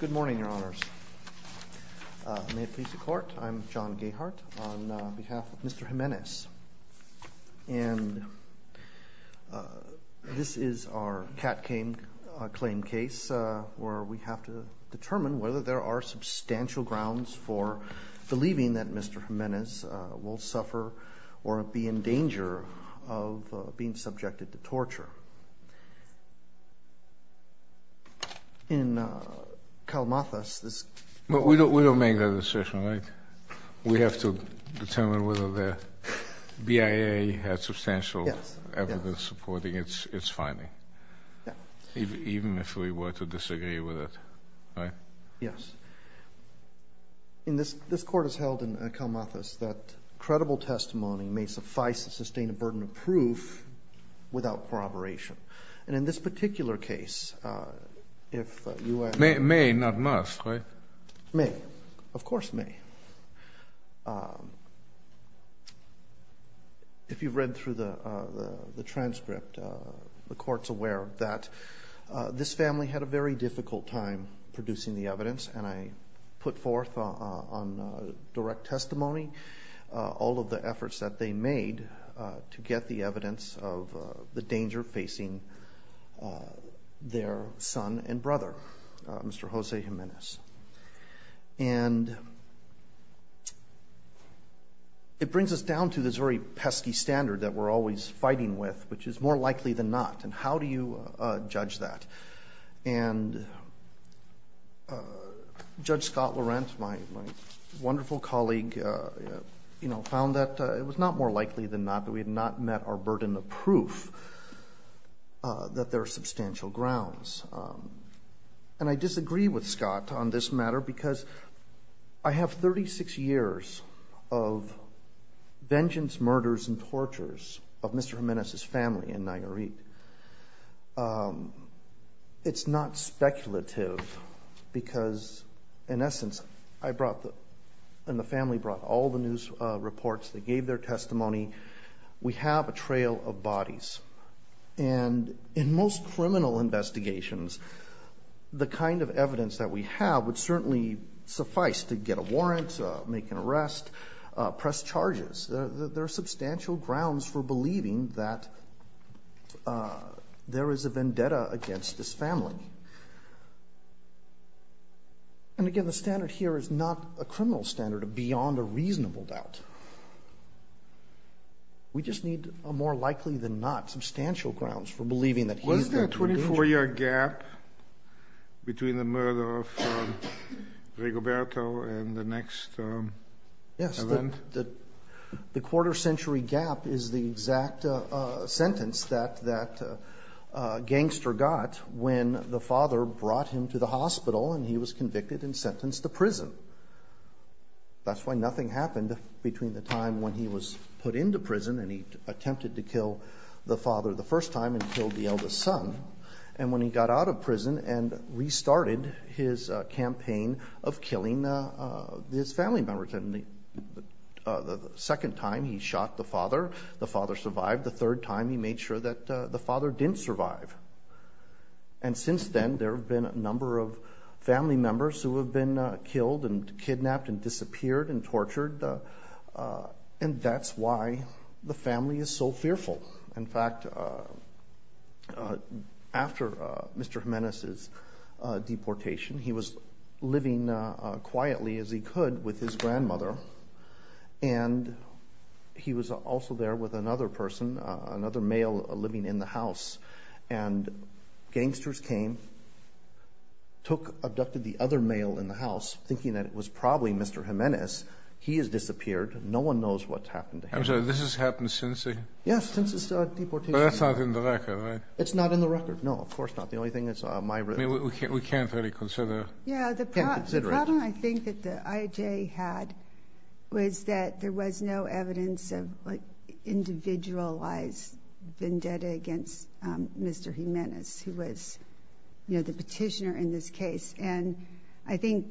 Good morning, your honors. May it please the court, I'm John Gayhart on behalf of Mr. Jimenez. And this is our cat claim case where we have to determine whether there are substantial grounds for believing that Mr. Jimenez will suffer or be in danger of being subjected to torture. In Kalamathas this But we don't make that decision, right? We have to determine whether the BIA has substantial evidence supporting its finding. Even if we were to disagree with it, right? Yes. In this, this court has held in Kalamathas that credible testimony may suffice to sustain a burden of proof without corroboration. And in this particular case, if you may... May, not must, right? May, of course may. If you've read through the transcript, the court's aware that this family had a very difficult time producing the evidence. And I put forth on direct testimony all of the efforts that they made to get the evidence of the danger facing their son and brother, Mr. Jose Jimenez. And it brings us down to this very pesky standard that we're always fighting with, which is more likely than not. And how do you judge that? And Judge Scott Laurent, my wonderful colleague, you know, found that it was not more likely than not that we had not met our burden of proof that there are substantial grounds. And I disagree with Scott on this matter because I have 36 years of vengeance, murders, and tortures of Mr. Jimenez's family in Nayarit. It's not speculative because, in essence, I brought the, and the family brought all the news reports. They gave their testimony. We have a trail of bodies. And in most criminal investigations, the kind of evidence that we have would certainly suffice to get a warrant, make an arrest, press charges. There are substantial grounds for believing that there is a vendetta against this family. And, again, the standard here is not a criminal standard, beyond a reasonable doubt. We just need a more likely than not substantial grounds for believing that he's the avenger. Was there a 24-year gap between the murder of Gregoberto and the next event? Yes. The quarter-century gap is the exact sentence that that gangster got when the father brought him to the hospital and he was convicted and sentenced to prison. That's why nothing happened between the time when he was put into prison and he attempted to kill the father the first time and killed the eldest son, and when he got out of prison and restarted his campaign of killing his family members. And the second time he shot the father, the father survived. The third time he made sure that the father didn't survive. And since then, there have been a number of family members who have been killed and kidnapped and disappeared and tortured, and that's why the family is so fearful. In fact, after Mr. Jimenez's deportation, he was living quietly as he could with his grandmother, and he was also there with another person, another male living in the house. And gangsters came, took, abducted the other male in the house, thinking that it was probably Mr. Jimenez. He has disappeared. No one knows what's happened to him. I'm sorry. This has happened since the deportation? Yes, since his deportation. But that's not in the record, right? It's not in the record. No, of course not. The only thing is my record. I mean, we can't really consider it. We can't consider it. The problem I think that the IJ had was that there was no evidence of, like, individualized vendetta against Mr. Jimenez, who was, you know, the petitioner in this case. And I think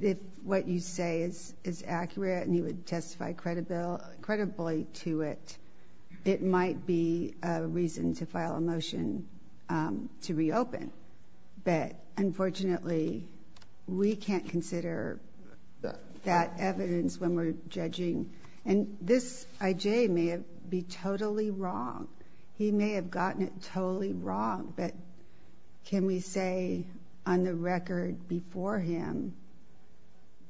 if what you say is accurate and you would testify credibly to it, it might be a reason to file a motion to reopen. But unfortunately, we can't consider that evidence when we're judging. And this IJ may be totally wrong. He may have gotten it totally wrong. But can we say on the record before him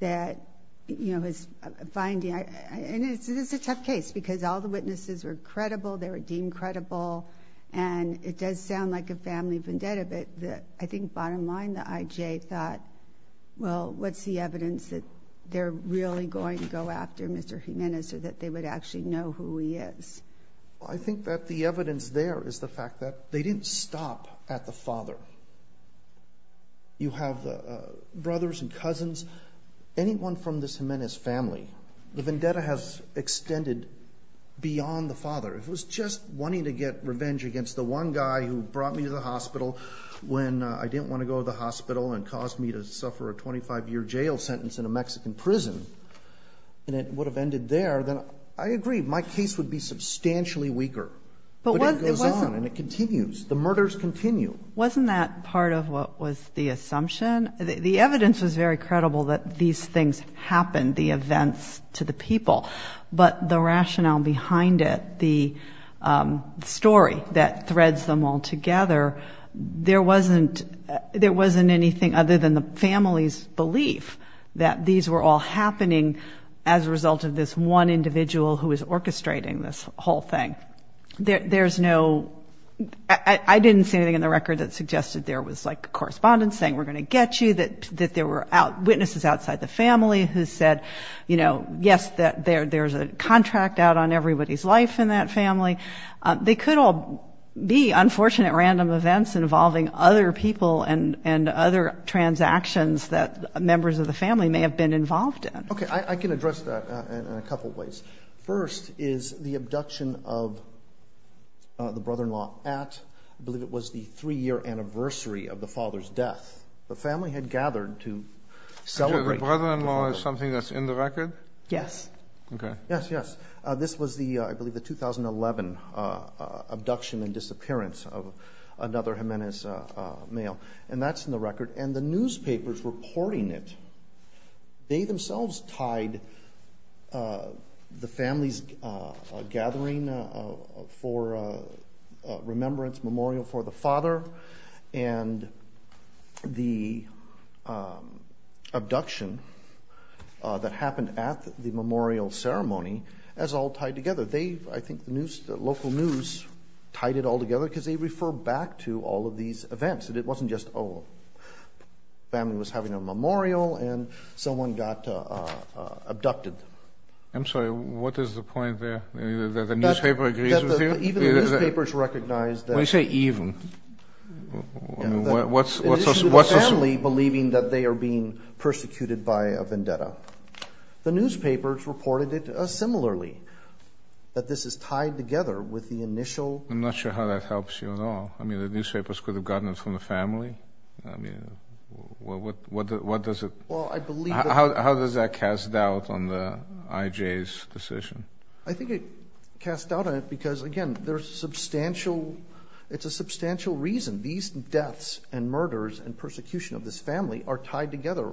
that, you know, his finding – and it's a tough case because all the witnesses were credible. They were deemed credible. And it does sound like a family vendetta, but I think bottom line the IJ thought, well, what's the evidence that they're really going to go after Mr. Jimenez or that they would actually know who he is? Well, I think that the evidence there is the fact that they didn't stop at the father. You have the brothers and cousins. Anyone from this Jimenez family, the vendetta has extended beyond the father. If it was just wanting to get revenge against the one guy who brought me to the hospital when I didn't want to go to the hospital and caused me to suffer a 25-year jail sentence in a Mexican prison and it would have ended there, then I agree. My case would be substantially weaker. But it goes on and it continues. The murders continue. Wasn't that part of what was the assumption? The evidence was very credible that these things happened, the events to the people. But the rationale behind it, the story that threads them all together, there wasn't anything other than the family's belief that these were all happening as a result of this one individual who was orchestrating this whole thing. There's no ñ I didn't see anything in the record that suggested there was, like, correspondence saying we're going to get you, that there were witnesses outside the family who said, you know, yes, that there's a contract out on everybody's life in that family. They could all be unfortunate random events involving other people and other transactions that members of the family may have been involved in. Okay. I can address that in a couple of ways. First is the abduction of the brother-in-law at, I believe it was, the three-year anniversary of the father's death. The family had gathered to celebrate the father's death. Is that something that's in the record? Yes. Okay. Yes, yes. This was the, I believe, the 2011 abduction and disappearance of another Jimenez male. And that's in the record. And the newspapers reporting it, they themselves tied the family's gathering for remembrance, memorial for the father, and the abduction that happened at the memorial ceremony as all tied together. They, I think, the local news tied it all together because they refer back to all of these events. It wasn't just, oh, family was having a memorial and someone got abducted. I'm sorry. What is the point there, that the newspaper agrees with you? Even the newspapers recognize that. When you say even, what's the... The family believing that they are being persecuted by a vendetta. The newspapers reported it similarly, that this is tied together with the initial... I'm not sure how that helps you at all. I mean, the newspapers could have gotten it from the family. I mean, what does it... Well, I believe... How does that cast doubt on the IJ's decision? I think it casts doubt on it because, again, there's substantial... It's a substantial reason. These deaths and murders and persecution of this family are tied together.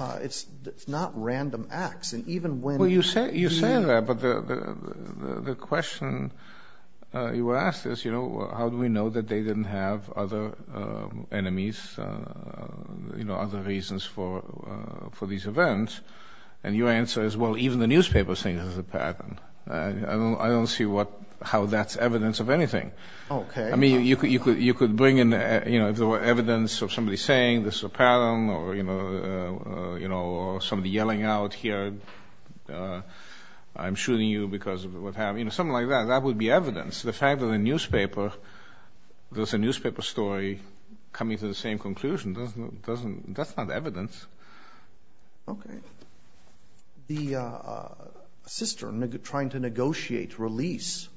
It's not random acts. And even when... Well, you say that, but the question you were asked is, you know, how do we know that they didn't have other enemies, you know, other reasons for these events? And your answer is, well, even the newspapers think this is a pattern. I don't see how that's evidence of anything. Okay. I mean, you could bring in, you know, if there were evidence of somebody saying this is a pattern or, you know, somebody yelling out here, I'm shooting you because of what happened. You know, something like that. That would be evidence. The fact that the newspaper, there's a newspaper story coming to the same conclusion. That's not evidence. Okay. The sister trying to negotiate release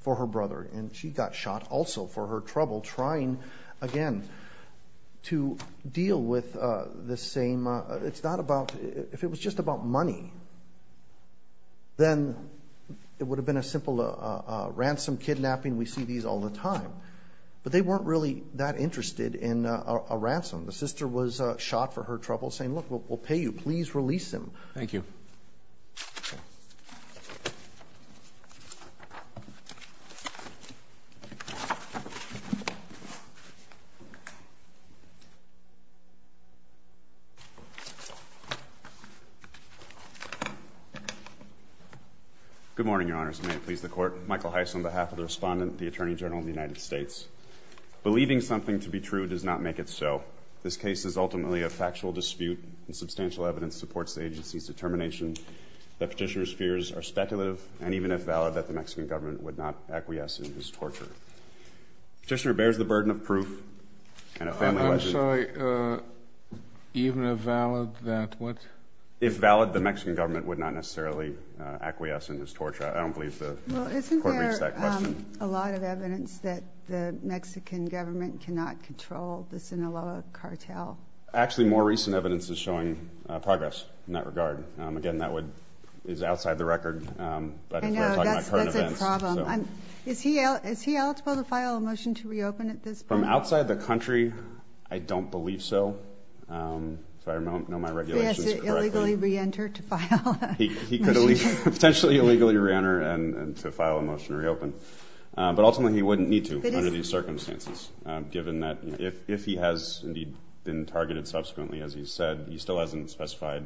for her brother, and she got shot also for her trouble trying, again, to deal with the same... It's not about... If it was just about money, then it would have been a simple ransom, kidnapping. We see these all the time. But they weren't really that interested in a ransom. The sister was shot for her trouble saying, look, we'll pay you. Please release him. Thank you. Good morning, Your Honors. May it please the Court. Michael Heiss on behalf of the Respondent of the Attorney General of the United States. Believing something to be true does not make it so. This case is ultimately a factual dispute, and substantial evidence supports the agency's determination that Petitioner's fears are speculative, and even if valid, that the Mexican government would not acquiesce in his torture. Petitioner bears the burden of proof. I'm sorry. Even if valid, that what? If valid, the Mexican government would not necessarily acquiesce in his torture. I don't believe the Court reads that question. A lot of evidence that the Mexican government cannot control the Sinaloa cartel. Actually, more recent evidence is showing progress in that regard. Again, that is outside the record. I know. That's a problem. Is he eligible to file a motion to reopen at this point? From outside the country, I don't believe so. If I know my regulations correctly. He has to illegally reenter to file a motion to reopen. Potentially illegally reenter and to file a motion to reopen. But ultimately, he wouldn't need to under these circumstances, given that if he has indeed been targeted subsequently, as he said, he still hasn't specified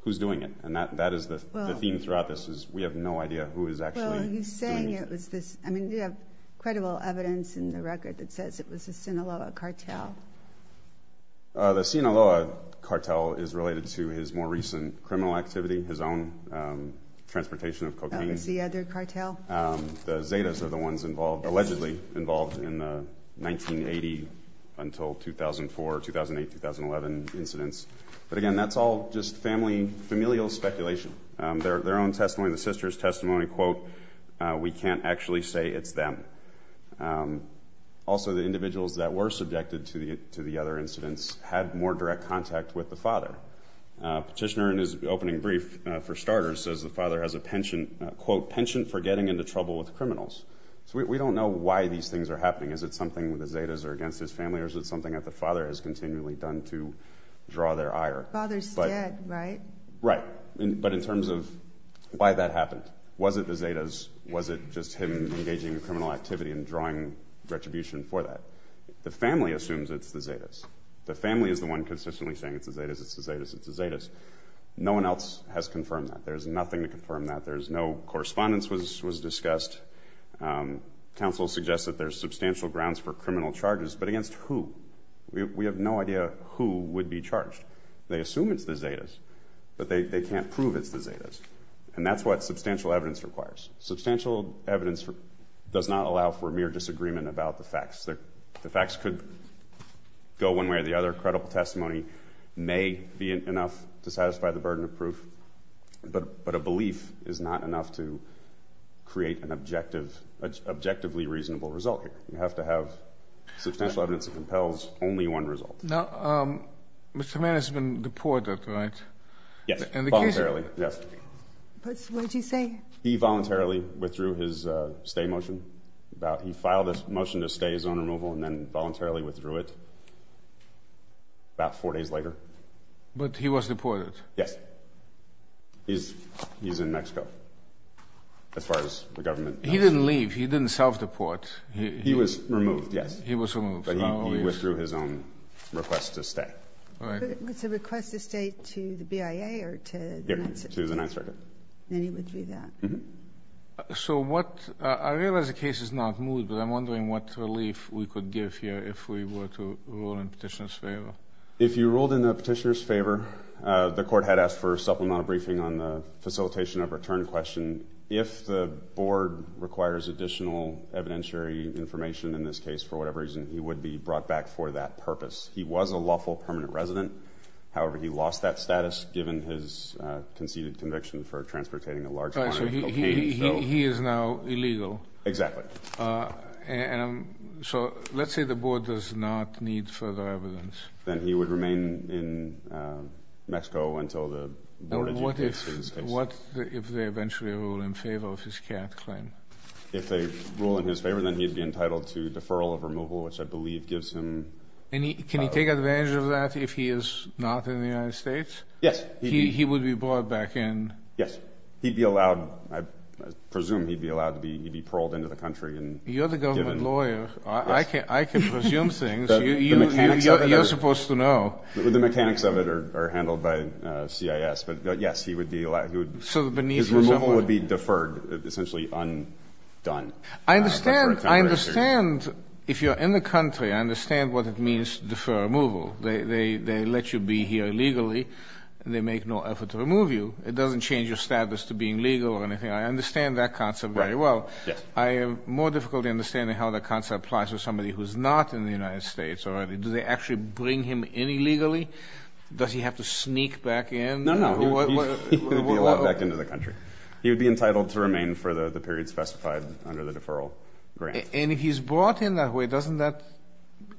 who's doing it. And that is the theme throughout this is we have no idea who is actually doing it. Well, he's saying it was this. I mean, you have credible evidence in the record that says it was the Sinaloa cartel. The Sinaloa cartel is related to his more recent criminal activity, his own transportation of cocaine. It's the other cartel? The Zetas are the ones allegedly involved in the 1980 until 2004, 2008, 2011 incidents. But, again, that's all just familial speculation. Their own testimony, the sisters' testimony, quote, we can't actually say it's them. Also, the individuals that were subjected to the other incidents had more direct contact with the father. Petitioner in his opening brief, for starters, says the father has a penchant, quote, penchant for getting into trouble with criminals. So we don't know why these things are happening. Is it something with the Zetas or against his family? Or is it something that the father has continually done to draw their ire? Father's dead, right? Right. But in terms of why that happened, was it the Zetas? Was it just him engaging in criminal activity and drawing retribution for that? The family assumes it's the Zetas. The family is the one consistently saying it's the Zetas, it's the Zetas, it's the Zetas. No one else has confirmed that. There's nothing to confirm that. There's no correspondence was discussed. Counsel suggests that there's substantial grounds for criminal charges, but against who? We have no idea who would be charged. And that's what substantial evidence requires. Substantial evidence does not allow for mere disagreement about the facts. The facts could go one way or the other. Credible testimony may be enough to satisfy the burden of proof. But a belief is not enough to create an objectively reasonable result here. You have to have substantial evidence that compels only one result. Now, Mr. Mann has been deported, right? Yes, voluntarily. Yes. What did he say? He voluntarily withdrew his stay motion. He filed a motion to stay his own removal and then voluntarily withdrew it about four days later. But he was deported? Yes. He's in Mexico as far as the government knows. He didn't leave. He didn't self-deport. He was removed, yes. He was removed. But he withdrew his own request to stay. It's a request to stay to the BIA or to the Ninth Circuit? To the Ninth Circuit. And he withdrew that? Uh-huh. So what – I realize the case is not moved, but I'm wondering what relief we could give here if we were to rule in Petitioner's favor. If you ruled in Petitioner's favor, the Court had asked for a supplemental briefing on the facilitation of return question. If the Board requires additional evidentiary information in this case for whatever reason, he would be brought back for that purpose. He was a lawful permanent resident. However, he lost that status given his conceded conviction for transportating a large quantity of cocaine. He is now illegal. Exactly. So let's say the Board does not need further evidence. Then he would remain in Mexico until the Board adjudicates his case. What if they eventually rule in favor of his CAT claim? If they rule in his favor, then he would be entitled to deferral of removal, which I believe gives him – Can he take advantage of that if he is not in the United States? Yes. He would be brought back in. Yes. He'd be allowed – I presume he'd be allowed to be – he'd be paroled into the country and given – You're the government lawyer. Yes. I can presume things. The mechanics of it are – You're supposed to know. The mechanics of it are handled by CIS. But, yes, he would be – So beneath his – His removal would be deferred, essentially undone. I understand – I understand if you're in the country, I understand what it means to defer removal. They let you be here illegally. They make no effort to remove you. It doesn't change your status to being legal or anything. I understand that concept very well. Right. Yes. I am more difficult in understanding how that concept applies to somebody who is not in the United States. Do they actually bring him in illegally? Does he have to sneak back in? No, no. He would be allowed back into the country. He would be entitled to remain for the period specified under the deferral grant. And if he's brought in that way, doesn't that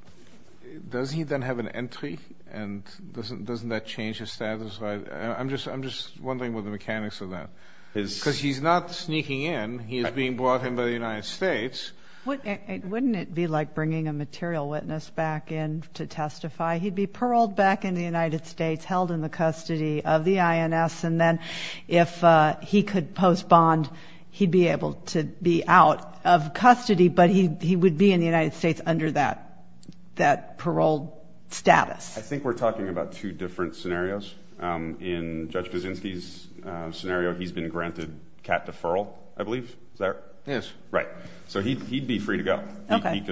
– does he then have an entry? And doesn't that change his status? I'm just wondering what the mechanics of that. Because he's not sneaking in. He is being brought in by the United States. Wouldn't it be like bringing a material witness back in to testify? He'd be paroled back in the United States, held in the custody of the INS. And then if he could post bond, he'd be able to be out of custody, but he would be in the United States under that parole status. I think we're talking about two different scenarios. In Judge Kaczynski's scenario, he's been granted cat deferral, I believe. Is that right? Yes. Right. So he'd be free to go. Okay.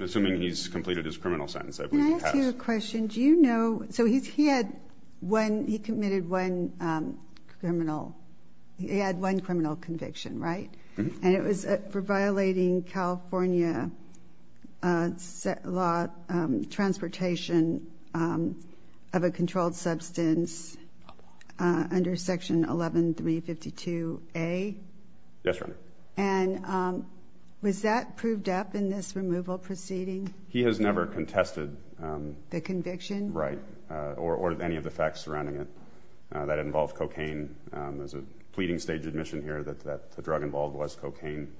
Assuming he's completed his criminal sentence, I believe he has. Can I ask you a question? Did you know – so he had one – he committed one criminal – he had one criminal conviction, right? And it was for violating California law, transportation of a controlled substance under Section 11352A. Yes, Your Honor. And was that proved up in this removal proceeding? He has never contested. The conviction? Right. Or any of the facts surrounding it. That involved cocaine. There's a pleading stage admission here that the drug involved was cocaine.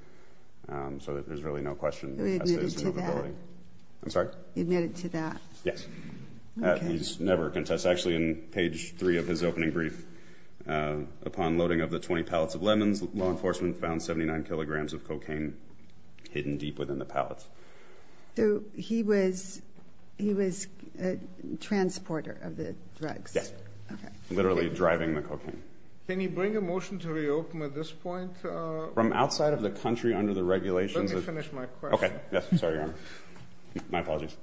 So there's really no question. But he admitted to that? I'm sorry? He admitted to that? Yes. Okay. He's never contested. Actually, in page three of his opening brief, upon loading of the 20 pallets of lemons, law enforcement found 79 kilograms of cocaine hidden deep within the pallets. So he was a transporter of the drugs? Yes. Okay. Literally driving the cocaine. Can you bring a motion to reopen at this point? From outside of the country under the regulations of – Let me finish my question. Okay. Yes. Sorry, Your Honor. My apologies.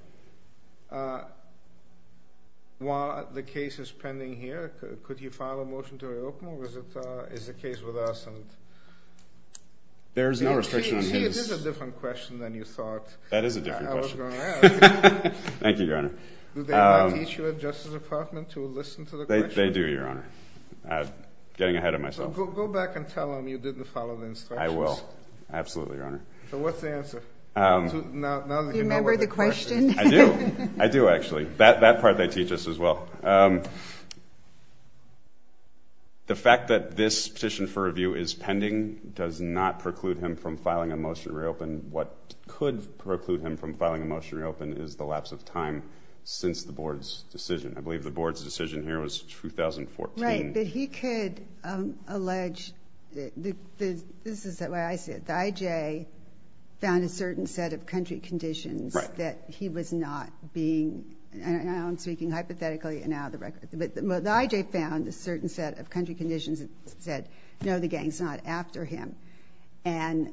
While the case is pending here, could you file a motion to reopen? Or is the case with us and – There is no restriction on his – That is a different question. I was going to ask. Thank you, Your Honor. Do they not teach you at Justice Department to listen to the questions? They do, Your Honor. Getting ahead of myself. So go back and tell them you didn't follow the instructions. I will. Absolutely, Your Honor. So what's the answer? Do you remember the question? I do. I do, actually. That part they teach us as well. The fact that this petition for review is pending does not preclude him from filing a motion to reopen. What could preclude him from filing a motion to reopen is the lapse of time since the Board's decision. I believe the Board's decision here was 2014. Right. But he could allege – this is the way I see it. The IJ found a certain set of country conditions that he was not being – now I'm speaking hypothetically and out of the record. But the IJ found a certain set of country conditions that said, no, the gang is not after him. And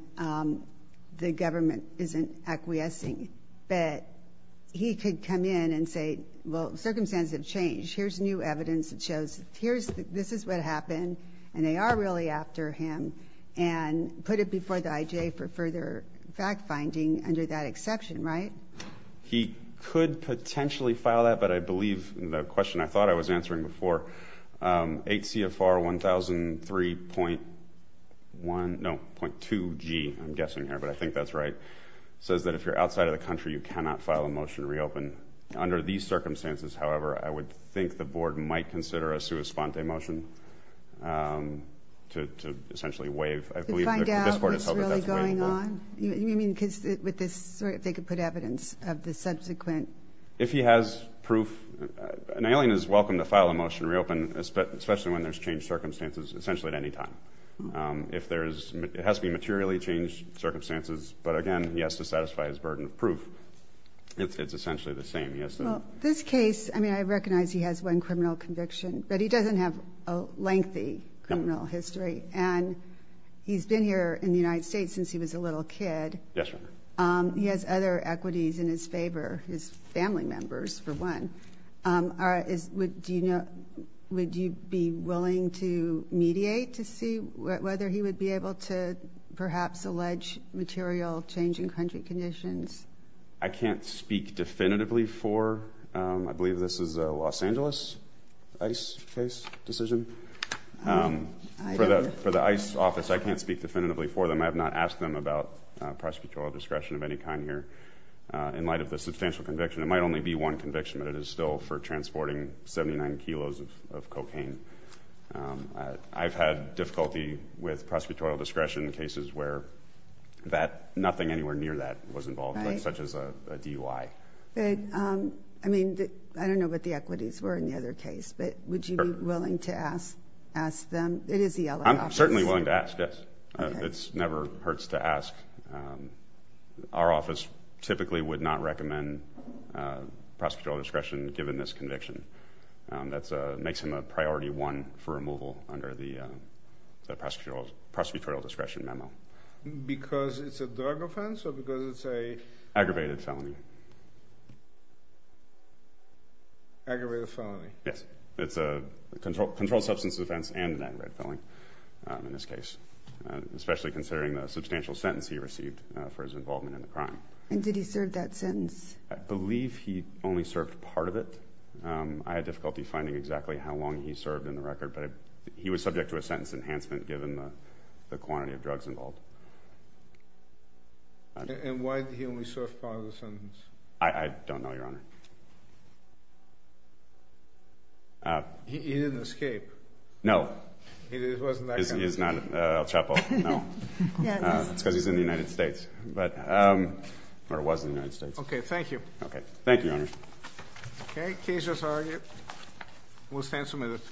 the government isn't acquiescing. But he could come in and say, well, circumstances have changed. Here's new evidence that shows this is what happened and they are really after him and put it before the IJ for further fact-finding under that exception, right? He could potentially file that, but I believe the question I thought I was answering before, HCFR 1003.1 – no, .2G, I'm guessing here, but I think that's right – says that if you're outside of the country, you cannot file a motion to reopen. Under these circumstances, however, I would think the Board might consider a sua sponte motion to essentially waive. To find out what's really going on? You mean with this – if they could put evidence of the subsequent – If he has proof, an alien is welcome to file a motion to reopen, especially when there's changed circumstances, essentially at any time. If there is – it has to be materially changed circumstances, but again, he has to satisfy his burden of proof. It's essentially the same. Well, this case – I mean, I recognize he has one criminal conviction, but he doesn't have a lengthy criminal history. And he's been here in the United States since he was a little kid. Yes, ma'am. He has other equities in his favor – his family members, for one. Would you be willing to mediate to see whether he would be able to perhaps allege material change in country conditions? I can't speak definitively for – I believe this is a Los Angeles ICE case decision. For the ICE office, I can't speak definitively for them. I have not asked them about prosecutorial discretion of any kind here. In light of the substantial conviction, it might only be one conviction, but it is still for transporting 79 kilos of cocaine. I've had difficulty with prosecutorial discretion in cases where that – nothing anywhere near that was involved, such as a DUI. I mean, I don't know what the equities were in the other case, but would you be willing to ask them? It is the LA office. I'm certainly willing to ask, yes. It never hurts to ask. Our office typically would not recommend prosecutorial discretion, given this conviction. That makes him a priority one for removal under the prosecutorial discretion memo. Because it's a drug offense or because it's a – Aggravated felony. Aggravated felony. Yes. It's a controlled substance offense and an aggravated felony in this case, especially considering the substantial sentence he received for his involvement in the crime. And did he serve that sentence? I believe he only served part of it. I had difficulty finding exactly how long he served in the record, but he was subject to a sentence enhancement, And why did he only serve part of the sentence? I don't know, Your Honor. He didn't escape. No. He wasn't that kind of person. He's not El Chapo. No. It's because he's in the United States. Or was in the United States. Okay. Thank you. Okay. Thank you, Your Honor. Okay. Case is argued. We'll stand submitted.